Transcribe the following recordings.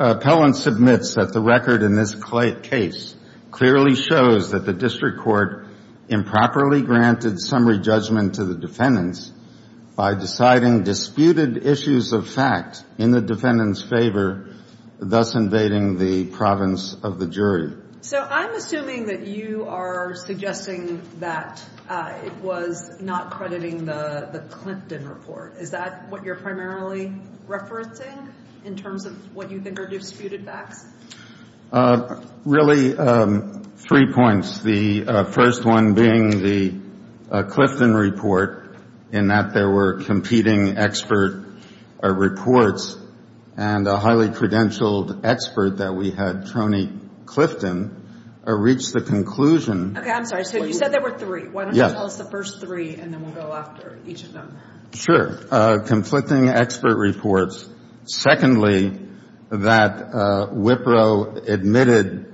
Appellant submits that the record in this case clearly shows that the District Court improperly granted summary judgment to the defendants by deciding disputed issues of fact in the defendant's favor, thus invading the province of the jury. So I'm assuming that you are suggesting that it was not crediting the Clinton report. Is that what you're primarily referencing in terms of what you think are disputed facts? Really, three points. The first one being the Clifton report in that there were competing expert reports, and a highly credentialed expert that we had, Tony Clifton, reached the conclusion Okay, I'm sorry. So you said there were three. Why don't you tell us the first three, and then we'll go after each of them. Sure. Conflicting expert reports. Secondly, that Wipro admitted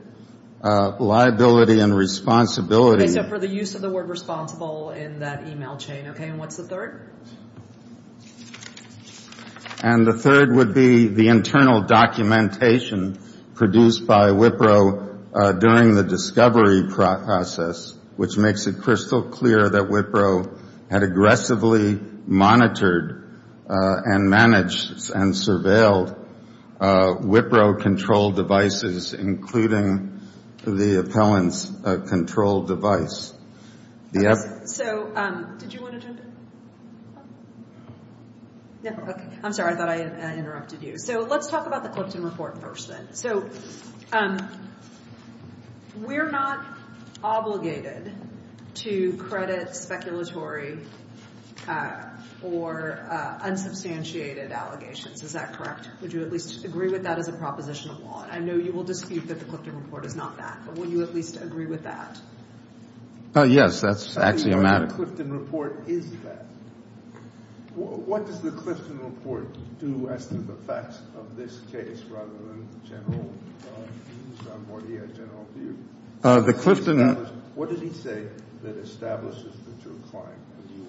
liability and responsibility Okay, so for the use of the word responsible in that email chain. Okay, and what's the third? And the third would be the internal documentation produced by Wipro during the discovery process, which makes it crystal clear that Wipro had aggressively monitored and managed and surveilled Wipro-controlled devices, including the appellant's controlled device. So, did you want to jump in? I'm sorry, I thought I interrupted you. So let's talk about the Clinton report first, then. So, we're not obligated to credit speculatory or unsubstantiated allegations. Is that correct? Would you at least agree with that as a proposition of law? And I know you will dispute that the Clifton report is not that, but will you at least agree with that? Yes, that's axiomatic. What does the Clifton report do as to the facts of this case, rather than the general views on what he had general views? The Clifton report... What did he say that establishes the true claim that you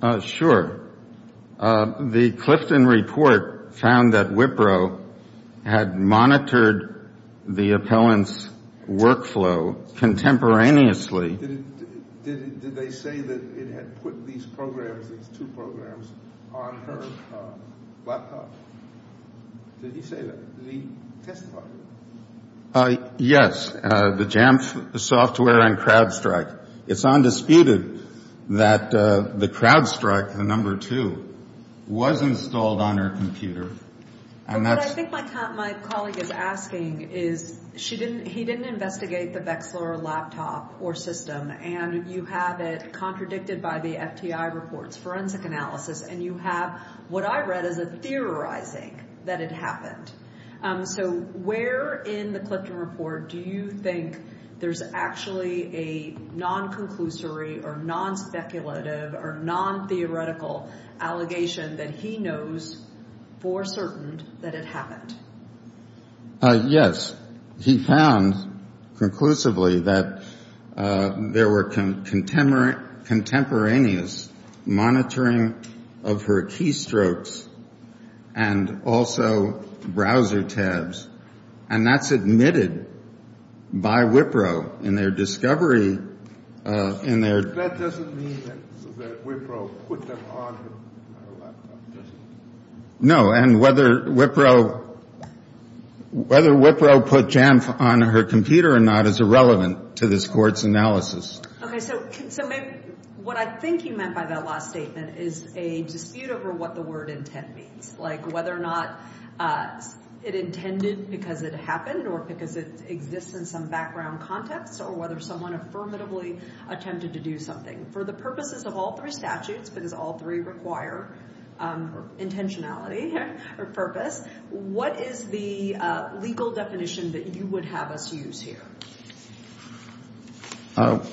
are right? Sure. The Clifton report found that Wipro had monitored the appellant's workflow contemporaneously. Did they say that it had put these programs, these two programs, on her laptop? Did he say that? Yes, the Jamf software and CrowdStrike. It's undisputed that the CrowdStrike, the number two, was installed on her computer. But what I think my colleague is asking is, he didn't investigate the Vexler laptop or system, and you have it contradicted by the FTI reports, forensic analysis, and you have what I read as a theorizing that it happened. So where in the Clifton report do you think there's actually a non-conclusory or non-speculative or non-theoretical allegation that he knows for certain that it happened? Yes. Yes, he found conclusively that there were contemporaneous monitoring of her keystrokes and also browser tabs, and that's admitted by Wipro in their discovery in their... That doesn't mean that Wipro put them on her laptop, does it? No, and whether Wipro put Jamf on her computer or not is irrelevant to this Court's analysis. Okay, so what I think you meant by that last statement is a dispute over what the word intent means, like whether or not it intended because it happened or because it exists in some background context or whether someone affirmatively attempted to do something For the purposes of all three statutes, because all three require intentionality or purpose, what is the legal definition that you would have us use here?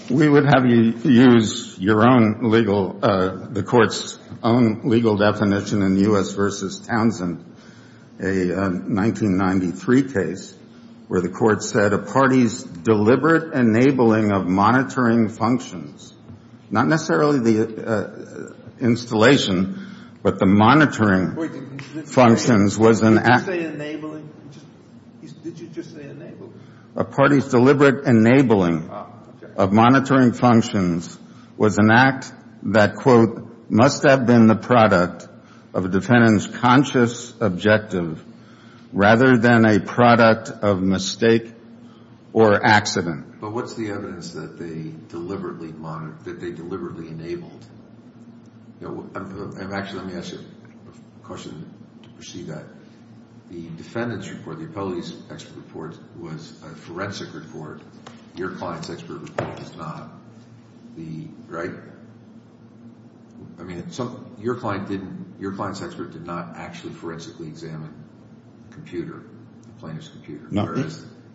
We would have you use your own legal... The Court's own legal definition in U.S. v. Townsend, a 1993 case where the Court said that a party's deliberate enabling of monitoring functions, not necessarily the installation, but the monitoring functions was an act... Wait, did you just say enabling? Did you just say enabling? A party's deliberate enabling of monitoring functions was an act that, quote, must have been the product of a defendant's conscious objective rather than a product of mistake or accident. But what's the evidence that they deliberately monitored, that they deliberately enabled? Actually, let me ask you a question to perceive that. The defendant's report, the appellate's expert report, was a forensic report. Your client's expert report is not, right? I mean, your client's expert did not actually forensically examine the computer, the plaintiff's computer,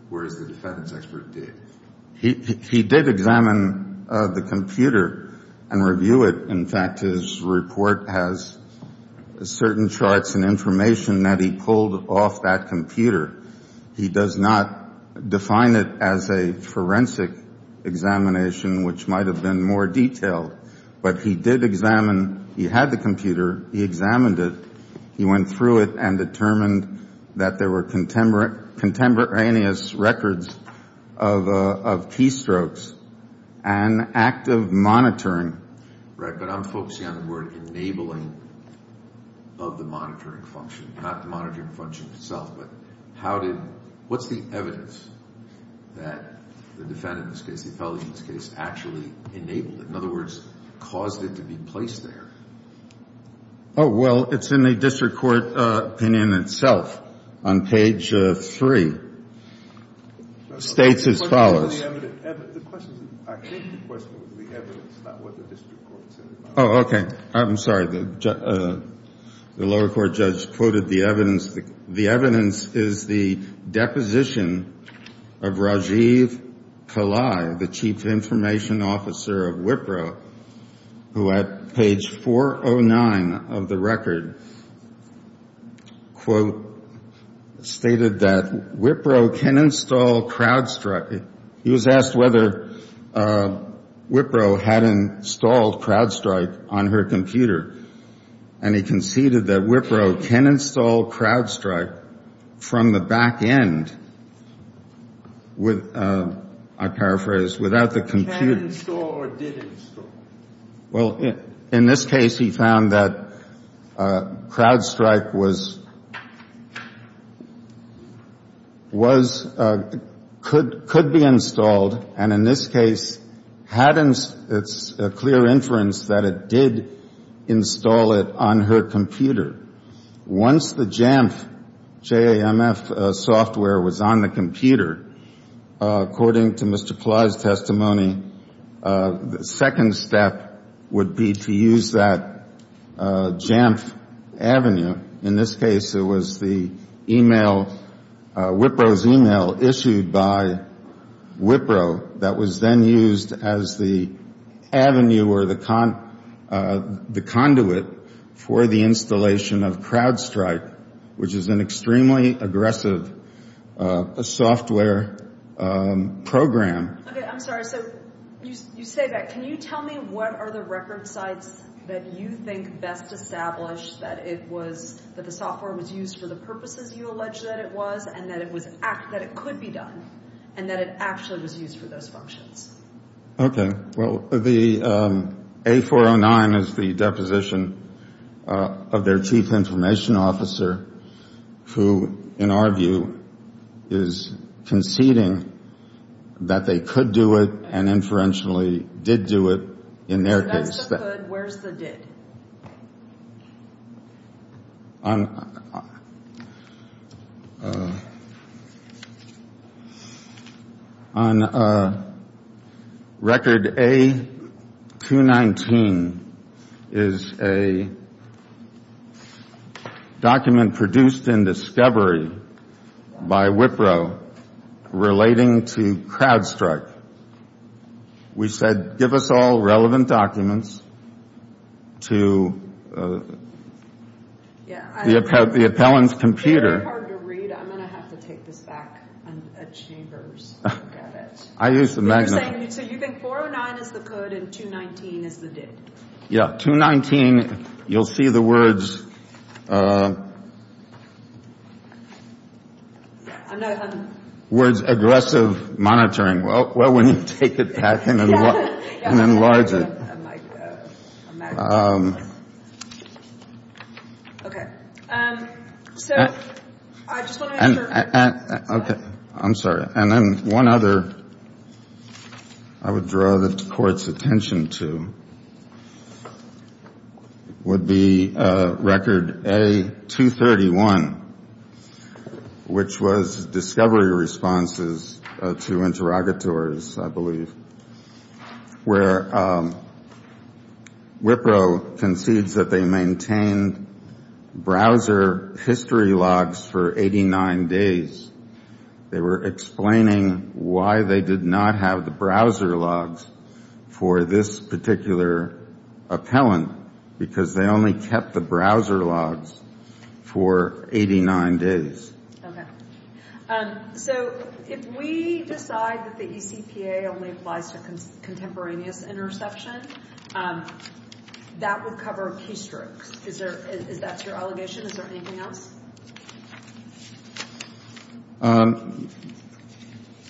whereas the defendant's expert did. He did examine the computer and review it. In fact, his report has certain charts and information that he pulled off that computer. He does not define it as a forensic examination, which might have been more detailed. But he did examine, he had the computer, he examined it, he went through it and determined that there were contemporaneous records of keystrokes, an act of monitoring. Right, but I'm focusing on the word enabling of the monitoring function, not the monitoring function itself. But how did, what's the evidence that the defendant's case, the appellate's case, actually enabled it? In other words, caused it to be placed there? Oh, well, it's in the district court opinion itself. On page three, states as follows. The question, I think the question was the evidence, not what the district court said about it. Oh, okay. I'm sorry. The lower court judge quoted the evidence. The evidence is the deposition of Rajiv Kalai, the chief information officer of Wipro, who at page 409 of the record, quote, stated that Wipro can install CrowdStrike. He was asked whether Wipro had installed CrowdStrike on her computer. And he conceded that Wipro can install CrowdStrike from the back end with, I paraphrase, without the computer. Can install or didn't install? Well, in this case, he found that CrowdStrike was, was, could be installed, and in this case had, it's a clear inference that it did install it on her computer. Once the Jamf, J-A-M-F, software was on the computer, according to Mr. Kalai's testimony, the second step would be to use that Jamf avenue. In this case, it was the email, Wipro's email issued by Wipro that was then used as the avenue or the conduit for the installation of CrowdStrike, which is an extremely aggressive software program. Okay. I'm sorry. So, you say that. Can you tell me what are the record sites that you think best establish that it was, that the software was used for the purposes you allege that it was and that it was, that it could be done and that it actually was used for those functions? Okay. Well, the A409 is the deposition of their chief information officer who, in our view, is conceding that they could do it and inferentially did do it in their case. So, that's the could. Where's the did? On record A219 is a document produced in discovery by Wipro relating to CrowdStrike. We said, give us all relevant documents to the appellant's computer. It's very hard to read. I'm going to have to take this back at Chambers and look at it. I used the magnifier. So, you think A409 is the could and A219 is the did? Yeah. A219, you'll see the words, words aggressive monitoring. Well, when you take it back and enlarge it. Okay. So, I just want to make sure. Okay. I'm sorry. And then one other I would draw the court's attention to would be record A231, which was discovery responses to interrogators, I believe, where Wipro concedes that they maintained browser history logs for 89 days. They were explaining why they did not have the browser logs for this particular appellant, because they only kept the browser logs for 89 days. Okay. So, if we decide that the ECPA only applies to contemporaneous interception, that would cover keystrokes. Is that your allegation? Is there anything else?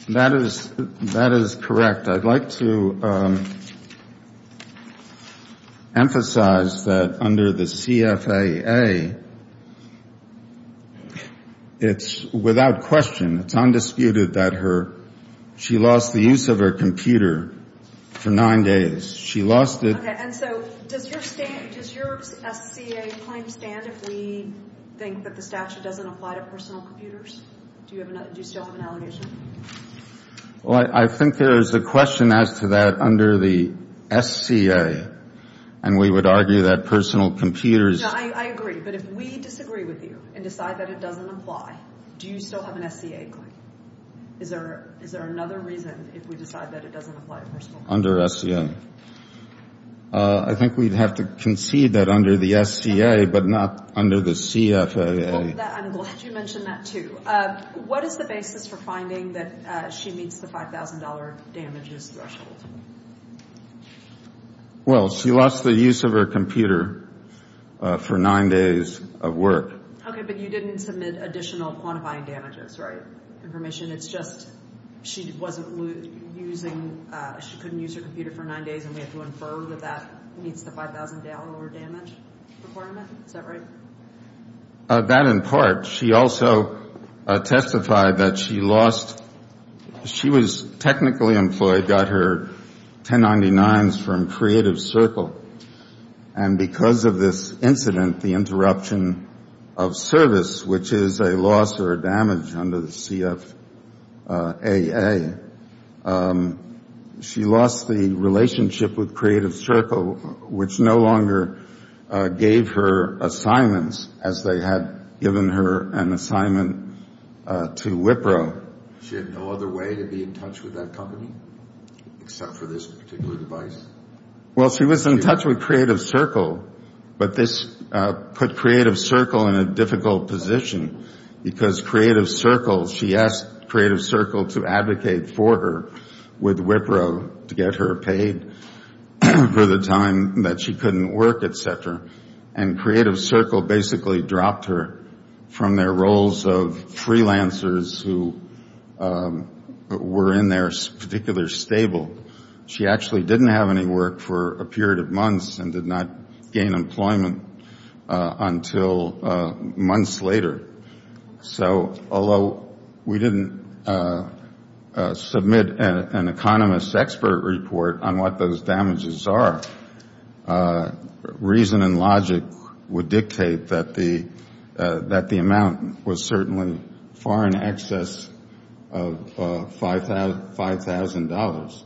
That is correct. I'd like to emphasize that under the CFAA, it's without question, it's undisputed that she lost the use of her computer for nine days. She lost it. Okay. And so, does your SCA claim stand if we think that the statute doesn't apply to personal computers? Do you still have an allegation? Well, I think there is a question as to that under the SCA. And we would argue that personal computers. I agree. But if we disagree with you and decide that it doesn't apply, do you still have an SCA claim? Is there another reason if we decide that it doesn't apply to personal computers? Under SCA. I think we'd have to concede that under the SCA, but not under the CFAA. I'm glad you mentioned that, too. Okay. What is the basis for finding that she meets the $5,000 damages threshold? Well, she lost the use of her computer for nine days of work. Okay, but you didn't submit additional quantifying damages, right, information? It's just she wasn't using, she couldn't use her computer for nine days, and we have to infer that that meets the $5,000 damage requirement? Is that right? That in part. She also testified that she lost, she was technically employed, got her 1099s from Creative Circle, and because of this incident, the interruption of service, which is a loss or a damage under the CFAA, she lost the relationship with Creative Circle, which no longer gave her assignments, as they had given her an assignment to Wipro. She had no other way to be in touch with that company except for this particular device? Well, she was in touch with Creative Circle, but this put Creative Circle in a difficult position because Creative Circle, she asked Creative Circle to advocate for her with Wipro to get her paid for the time that she couldn't work, et cetera, and Creative Circle basically dropped her from their roles of freelancers who were in their particular stable. She actually didn't have any work for a period of months and did not gain employment until months later. So although we didn't submit an economist expert report on what those damages are, reason and logic would dictate that the amount was certainly far in excess of $5,000.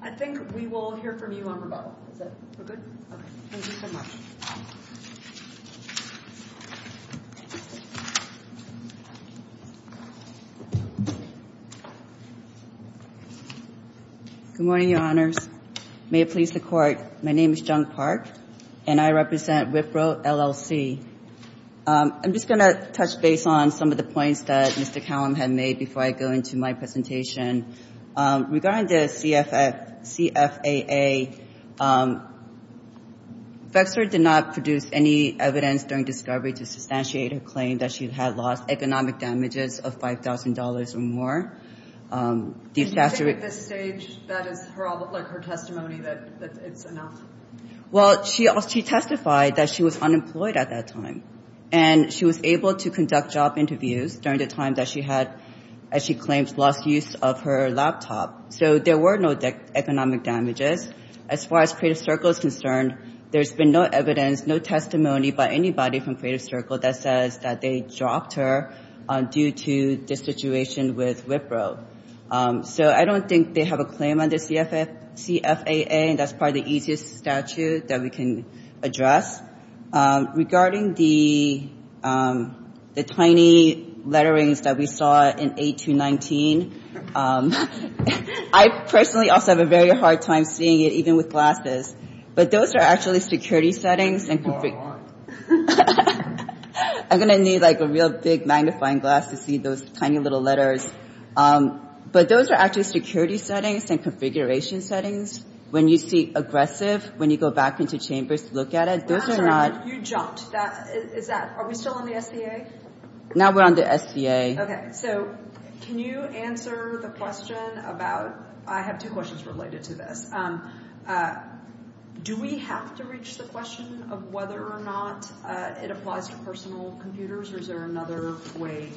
I think we will hear from you on rebuttal. Is that good? Okay. Thank you so much. Good morning, Your Honors. May it please the Court, my name is Jung Park, and I represent Wipro, LLC. I'm just going to touch base on some of the points that Mr. Callum had made before I go into my presentation. Regarding the CFAA, Vexler did not produce any evidence during discovery to substantiate her claim that she had lost economic damages of $5,000 or more. Do you think at this stage that is her testimony that it's enough? Well, she testified that she was unemployed at that time, and she was able to conduct job interviews during the time that she had, as she claims, lost use of her laptop. So there were no economic damages. As far as Creative Circle is concerned, there's been no evidence, no testimony by anybody from Creative Circle that says that they dropped her due to the situation with Wipro. So I don't think they have a claim under CFAA, and that's probably the easiest statute that we can address. Regarding the tiny letterings that we saw in A219, I personally also have a very hard time seeing it, even with glasses. But those are actually security settings. I'm going to need a real big magnifying glass to see those tiny little letters. But those are actually security settings and configuration settings. When you see aggressive, when you go back into chambers to look at it, those are not... You jumped. Are we still on the SBA? Now we're on the SBA. Okay. So can you answer the question about... I have two questions related to this. Do we have to reach the question of whether or not it applies to personal computers, or is there another way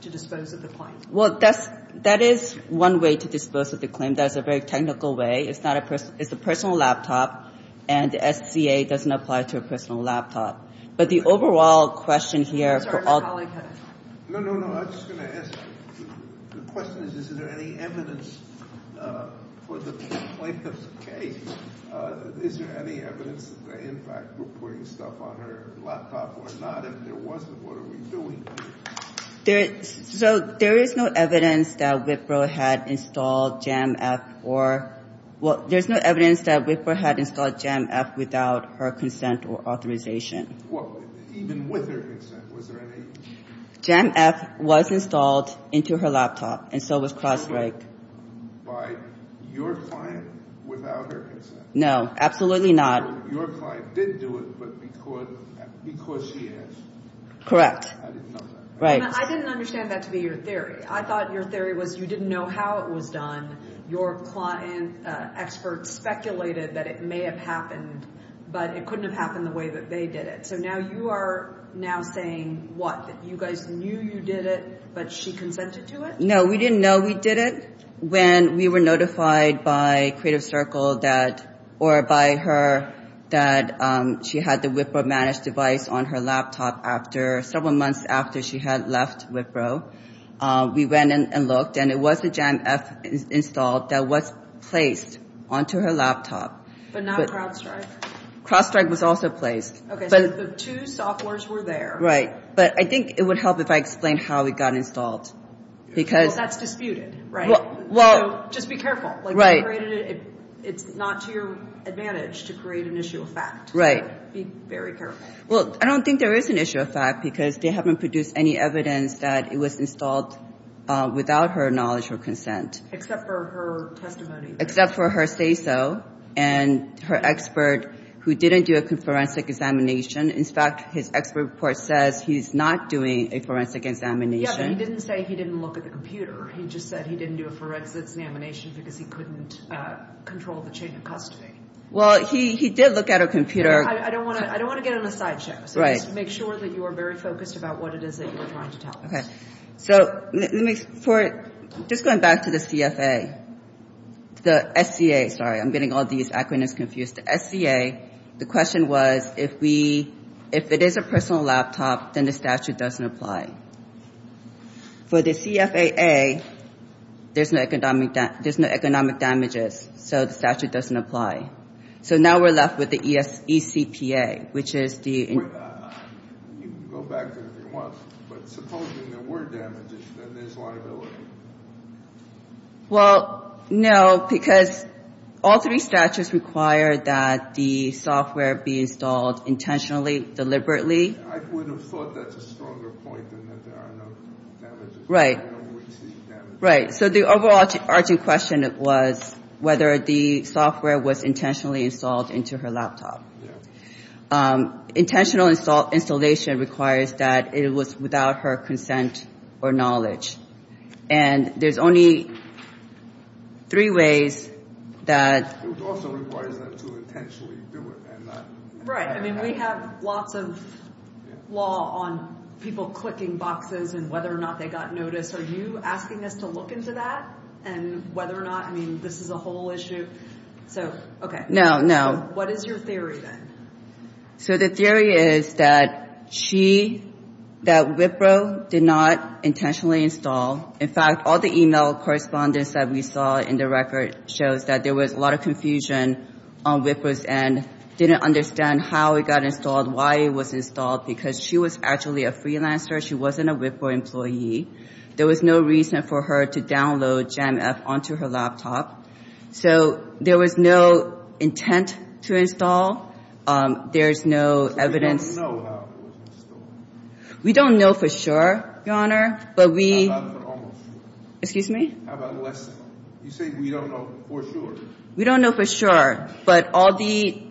to dispose of the claim? Well, that is one way to dispose of the claim. That is a very technical way. It's a personal laptop, and the SBA doesn't apply to a personal laptop. But the overall question here... No, no, no. I was just going to ask, the question is, is there any evidence for the plaintiff's case? Is there any evidence that they, in fact, were putting stuff on her laptop or not? If there wasn't, what are we doing? So there is no evidence that Wipro had installed Jamf or... Well, there's no evidence that Wipro had installed Jamf without her consent or authorization. Well, even with her consent, was there any? Jamf was installed into her laptop, and so was Crossbreak. By your client without her consent? Your client did do it, but because she asked. I didn't understand that to be your theory. I thought your theory was you didn't know how it was done. Your client expert speculated that it may have happened, but it couldn't have happened the way that they did it. So now you are now saying, what, that you guys knew you did it, but she consented to it? No, we didn't know we did it when we were notified by Creative Circle or by her that she had the Wipro managed device on her laptop several months after she had left Wipro. We went and looked, and it was the Jamf installed that was placed onto her laptop. But not CrowdStrike? CrowdStrike was also placed. But I think it would help if I explained how it got installed. Well, that's disputed. Just be careful. It's not to your advantage to create an issue of fact. Well, I don't think there is an issue of fact because they haven't produced any evidence that it was installed without her knowledge or consent. Except for her testimony. Except for her say-so and her expert who didn't do a forensic examination. In fact, his expert report says he's not doing a forensic examination. Yeah, but he didn't say he didn't look at the computer. He just said he didn't do a forensic examination because he couldn't control the chain of custody. Well, he did look at her computer. I don't want to get on a sideshow, so just make sure that you are very focused about what it is that you are trying to tell us. Just going back to the CFA, the SCA, sorry, I'm getting all these acronyms confused. The SCA, the question was, if it is a personal laptop, then the statute doesn't apply. For the CFAA, there's no economic damages, so the statute doesn't apply. So now we're left with the ECPA, which is the... You can go back to it if you want, but supposing there were damages, then there's liability. Well, no, because all three statutes require that the software be installed intentionally, deliberately. I would have thought that's a stronger point than that there are no damages. Right. So the overarching question was whether the software was intentionally installed into her laptop. Intentional installation requires that it was without her consent or knowledge, and there's only three ways that... It also requires them to intentionally do it and not... Right. I mean, we have lots of law on people clicking boxes and whether or not they got noticed. Are you asking us to look into that and whether or not... I mean, this is a whole issue. No, no. What is your theory, then? So the theory is that Wipro did not intentionally install. In fact, all the e-mail correspondence that we saw in the record shows that there was a lot of confusion on Wipro's end, didn't understand how it got installed, why it was installed, because she was actually a freelancer. She wasn't a Wipro employee. There was no reason for her to download Jamf onto her laptop. So there was no intent to install. There's no evidence... We don't know for sure, Your Honor, but we... We don't know for sure, but all the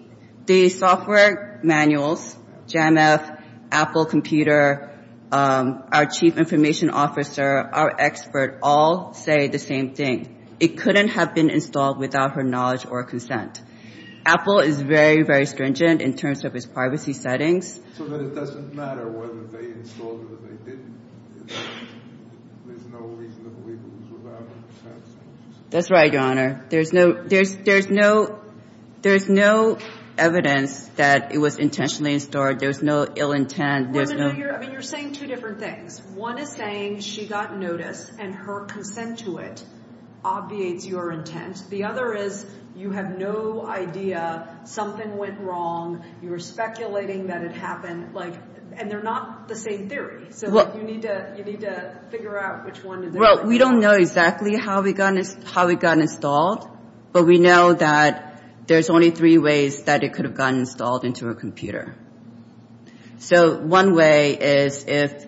software manuals, Jamf, Apple computer, our chief information officer, our expert, all say the same thing. It couldn't have been installed without her knowledge or consent. It doesn't matter whether they installed it or they didn't. There's no reason to believe it was without her consent. That's right, Your Honor. There's no evidence that it was intentionally installed. There's no ill intent. I mean, you're saying two different things. One is saying she got notice and her consent to it obviates your intent. The other is you have no idea. Something went wrong. You were speculating that it happened. And they're not the same theory, so you need to figure out which one is it. Well, we don't know exactly how it got installed, but we know that there's only three ways that it could have gotten installed into her computer. So one way is if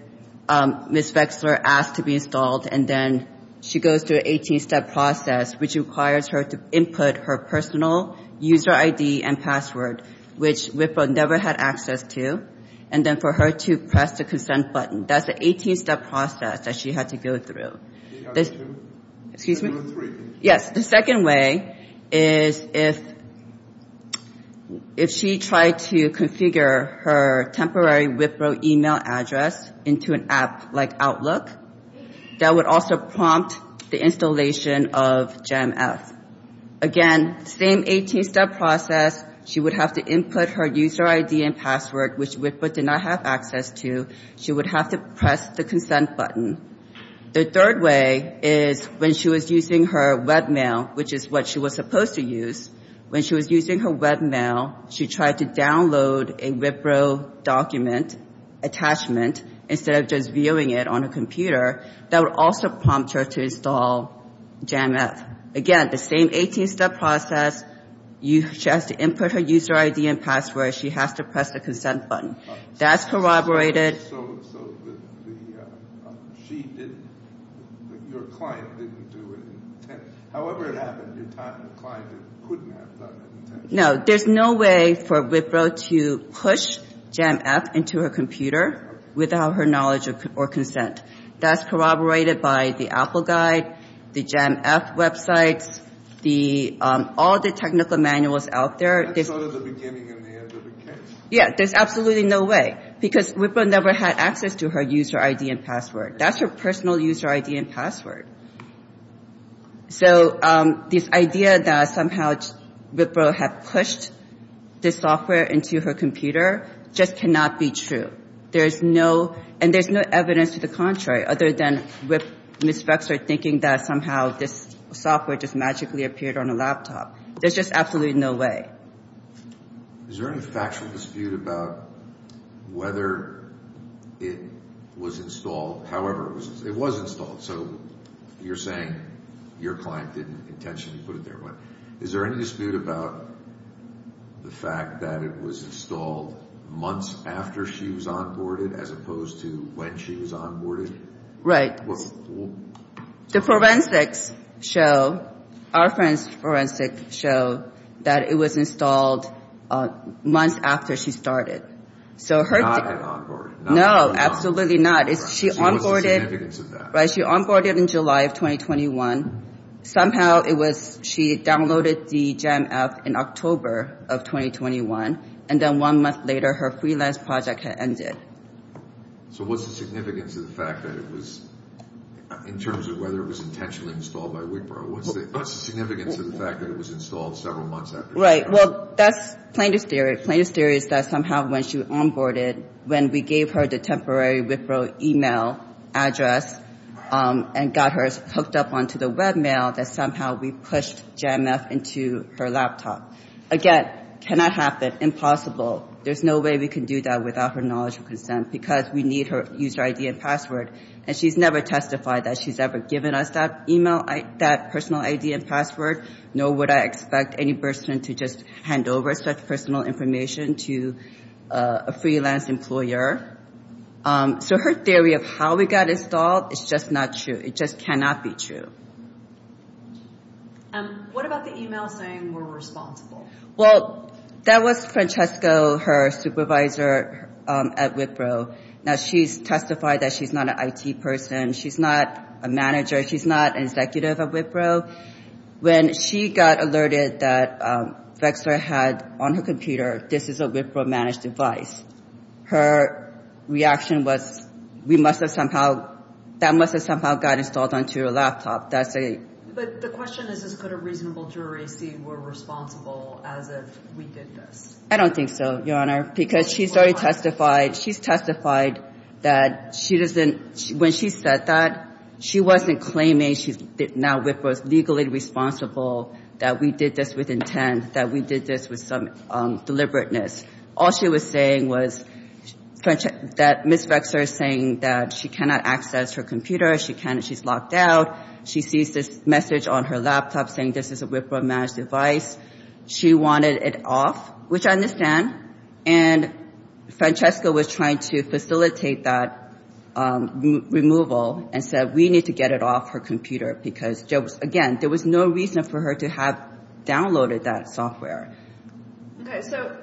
Ms. Vexler asked to be installed and then she goes through an 18-step process, which requires her to input her personal user ID and password, which Wipro never had access to, and then for her to press the consent button. That's the 18-step process that she had to go through. She had to go through three. Yes. The second way is if she tried to configure her temporary Wipro email address into an app like Outlook, that would also prompt the installation of GEMF. Again, same 18-step process. She would have to input her user ID and password, which Wipro did not have access to. She would have to press the consent button. The third way is when she was using her web mail, which is what she was supposed to use, when she was using her web mail, she tried to download a Wipro document attachment instead of just viewing it on her computer. That would also prompt her to install GEMF. Again, the same 18-step process. She has to input her user ID and password. She has to press the consent button. That's corroborated. Yes. No. There's no way for Wipro to push GEMF into her computer without her knowledge or consent. That's corroborated by the Apple Guide, the GEMF websites, all the technical manuals out there. Yes. There's absolutely no way, because Wipro never had access to her user ID and password. That's her personal user ID and password. So this idea that somehow Wipro had pushed this software into her computer just cannot be true. And there's no evidence to the contrary other than Ms. Flexer thinking that somehow this software just magically appeared on a laptop. There's just absolutely no way. Is there any factual dispute about whether it was installed? However, it was installed, so you're saying your client didn't intentionally put it there. Is there any dispute about the fact that it was installed months after she was onboarded as opposed to when she was onboarded? Right. The forensics show, our forensic show, that it was installed months after she started. Not when she was onboarded. No, absolutely not. She onboarded in July of 2021. Somehow she downloaded the GEMF in October of 2021, and then one month later her freelance project had ended. So what's the significance of the fact that it was, in terms of whether it was intentionally installed by Wipro? What's the significance of the fact that it was installed several months after she started? Right. Well, that's plaintiff's theory. Plaintiff's theory is that somehow when she onboarded, when we gave her the temporary Wipro email address and got her hooked up onto the web mail, that somehow we pushed GEMF into her laptop. Again, cannot happen. Impossible. There's no way we can do that without her knowledge and consent, because we need her user ID and password. And she's never testified that she's ever given us that email, that personal ID and password, nor would I expect any person to just hand over such personal information to a freelance employer. So her theory of how it got installed is just not true. It just cannot be true. What about the email saying we're responsible? Well, that was Francesco, her supervisor at Wipro. Now she's testified that she's not an IT person, she's not a manager, she's not an executive at Wipro. When she got alerted that Vexler had on her computer, this is a Wipro managed device, her reaction was, we must have somehow, that must have somehow got installed onto your laptop. But the question is, could a reasonable jury see we're responsible as if we did this? I don't think so, Your Honor, because she's already testified, she's testified that she doesn't, when she said that, she wasn't claiming that now Wipro is legally responsible, that we did this with intent, that we did this with some deliberateness. All she was saying was that Ms. Vexler is saying that she cannot access her computer, she's locked out. She sees this message on her laptop saying this is a Wipro managed device. She wanted it off, which I understand. And Francesco was trying to facilitate that removal and said we need to get it off her computer because, again, there was no reason for her to have downloaded that software. Okay, so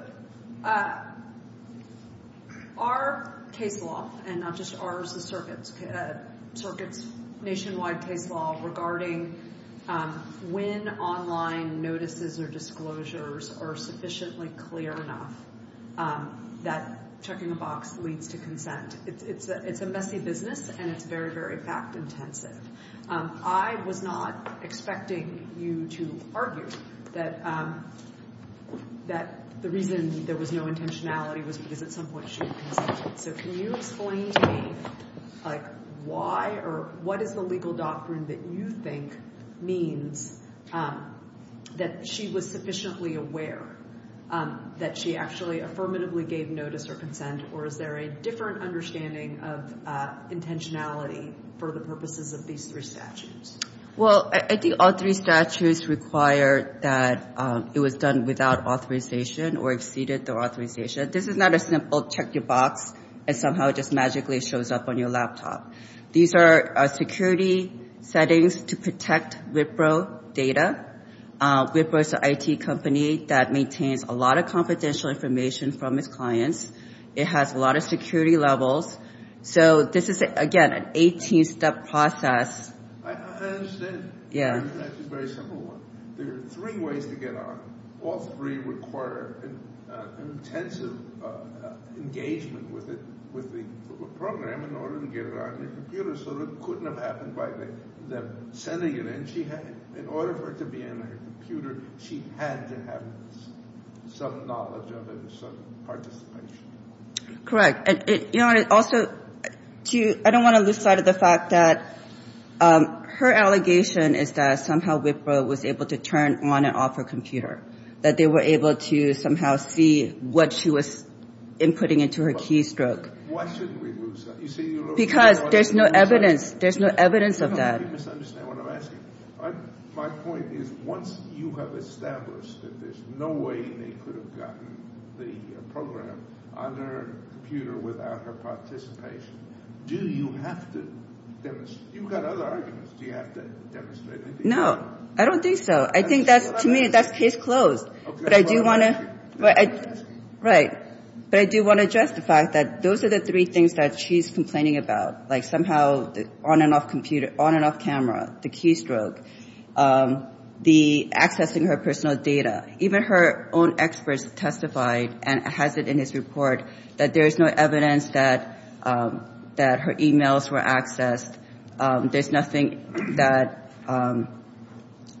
our case law, and not just ours, the circuit's nationwide case law, regardless of whether it's a case law or a case law, is regarding when online notices or disclosures are sufficiently clear enough that checking a box leads to consent. It's a messy business and it's very, very fact-intensive. I was not expecting you to argue that the reason there was no intentionality was because at some point she had consented. So can you explain to me why or what is the legal doctrine that you think means that she was sufficiently aware that she actually affirmatively gave notice or consent, or is there a different understanding of intentionality for the purposes of these three statutes? Well, I think all three statutes require that it was done without authorization or exceeded the authorization. This is not a simple check your box and somehow it just magically shows up on your laptop. These are security settings to protect Wipro data. Wipro is an IT company that maintains a lot of confidential information from its clients. It has a lot of security levels. So this is, again, an 18-step process. I understand. That's a very simple one. There are three ways to get on. All three require intensive engagement with the program in order to get it on your computer. So it couldn't have happened by them sending it in. In order for it to be in her computer, she had to have some knowledge of it and some participation. Correct. Also, I don't want to lose sight of the fact that her allegation is that somehow Wipro was able to turn on and off her computer, that they were able to somehow see what she was inputting into her keystroke. Why shouldn't we lose sight? Because there's no evidence. There's no evidence of that. You misunderstand what I'm asking. My point is once you have established that there's no way they could have gotten the program on their computer without her participation, do you have to demonstrate? You've got other arguments. Do you have to demonstrate anything? No. I don't think so. To me, that's case closed. Right. But I do want to justify that those are the three things that she's complaining about, like somehow on and off computer, on and off camera, the keystroke, the accessing her personal data. Even her own experts testified and has it in his report that there is no evidence that her e-mails were accessed. There's nothing that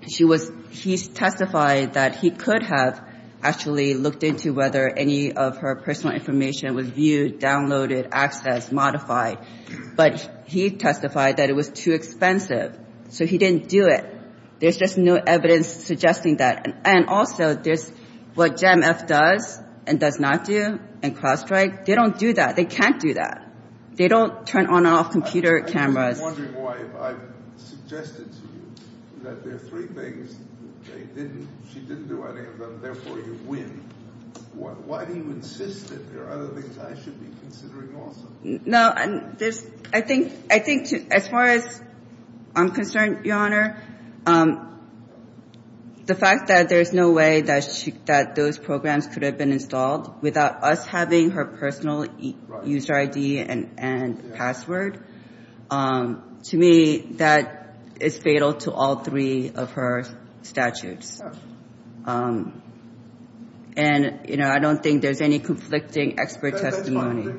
she was he testified that he could have accessed her personal data. He could not have actually looked into whether any of her personal information was viewed, downloaded, accessed, modified. But he testified that it was too expensive. So he didn't do it. There's just no evidence suggesting that. And also, there's what JEMF does and does not do and CrowdStrike. They don't do that. They can't do that. They don't turn on and off computer cameras. I'm wondering why, if I've suggested to you that there are three things she didn't do, any of those three things, and therefore you win, why do you insist that there are other things I should be considering also? No, I think as far as I'm concerned, Your Honor, the fact that there's no way that those programs could have been installed without us having her personal user ID and password, to me, that is fatal to all three of her statutes. And, you know, I don't think there's any conflicting expert testimony. I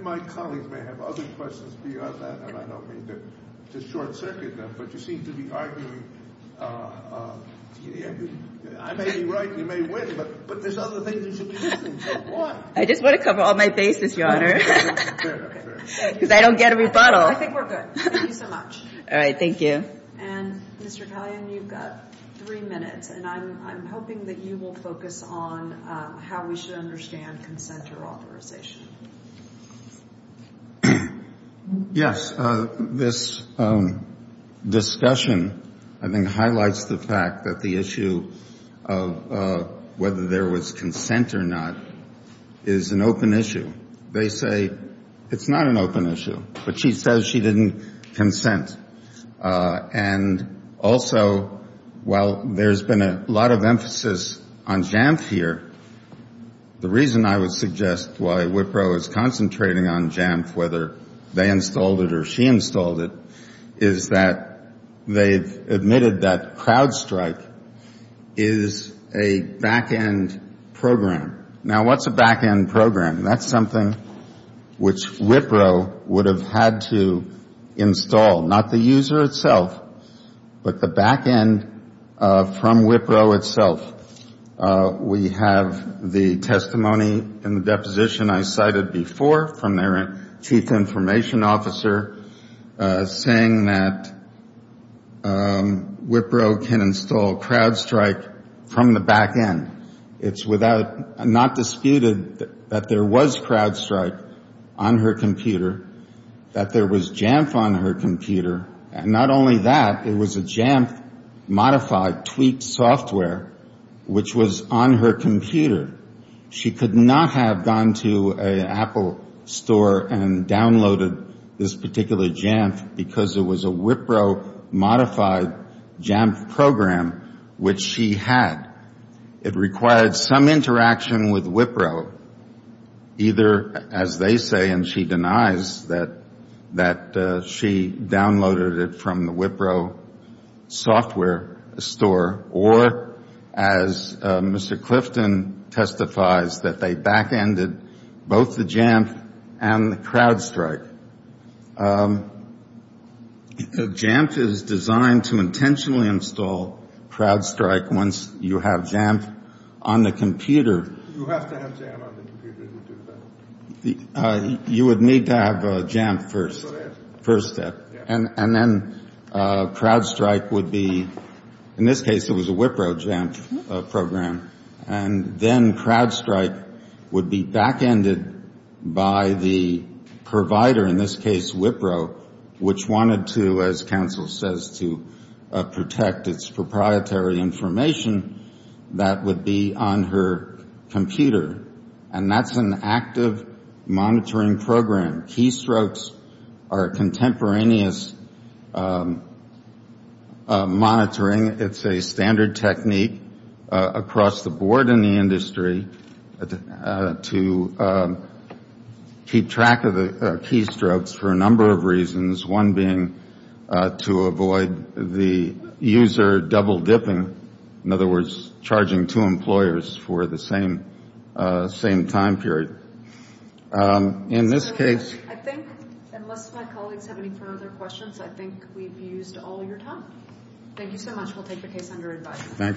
just want to cover all my bases, Your Honor, because I don't get a rebuttal. All right. Thank you. All right. All right. We have the testimony in the deposition I cited before from their chief information officer saying that Wipro can install CrowdStrike from the back end. It's not disputed that there was CrowdStrike on her computer, that there was JEMF on her computer, and not only that, it was a JEMF-modified tweaked software, which was on her computer. She could not have gone to an Apple store and downloaded this particular JEMF because it was a Wipro-modified JEMF program, which she had. It required some interaction with Wipro, either as they say, and she denies, that she downloaded it from the Wipro software store, or as Mr. Clifton testifies, that they back ended both the JEMF and the CrowdStrike. JEMF is designed to intentionally install CrowdStrike once you have JEMF on the computer. You would need to have JEMF first. And then CrowdStrike would be, in this case it was a Wipro JEMF program, and then CrowdStrike would be back ended by the provider, in this case Wipro, which wanted to, as counsel says, to protect its proprietary information that would be on her computer. And that's an active monitoring program. Keystrokes are contemporaneous monitoring. It's a standard technique across the board in the industry to keep track of the keystrokes for a number of reasons, one being to avoid the user double-dipping, in other words, charging two employers for the same keystroke. And the other being to avoid the user double-dipping for the same time period. In this case... Thank you.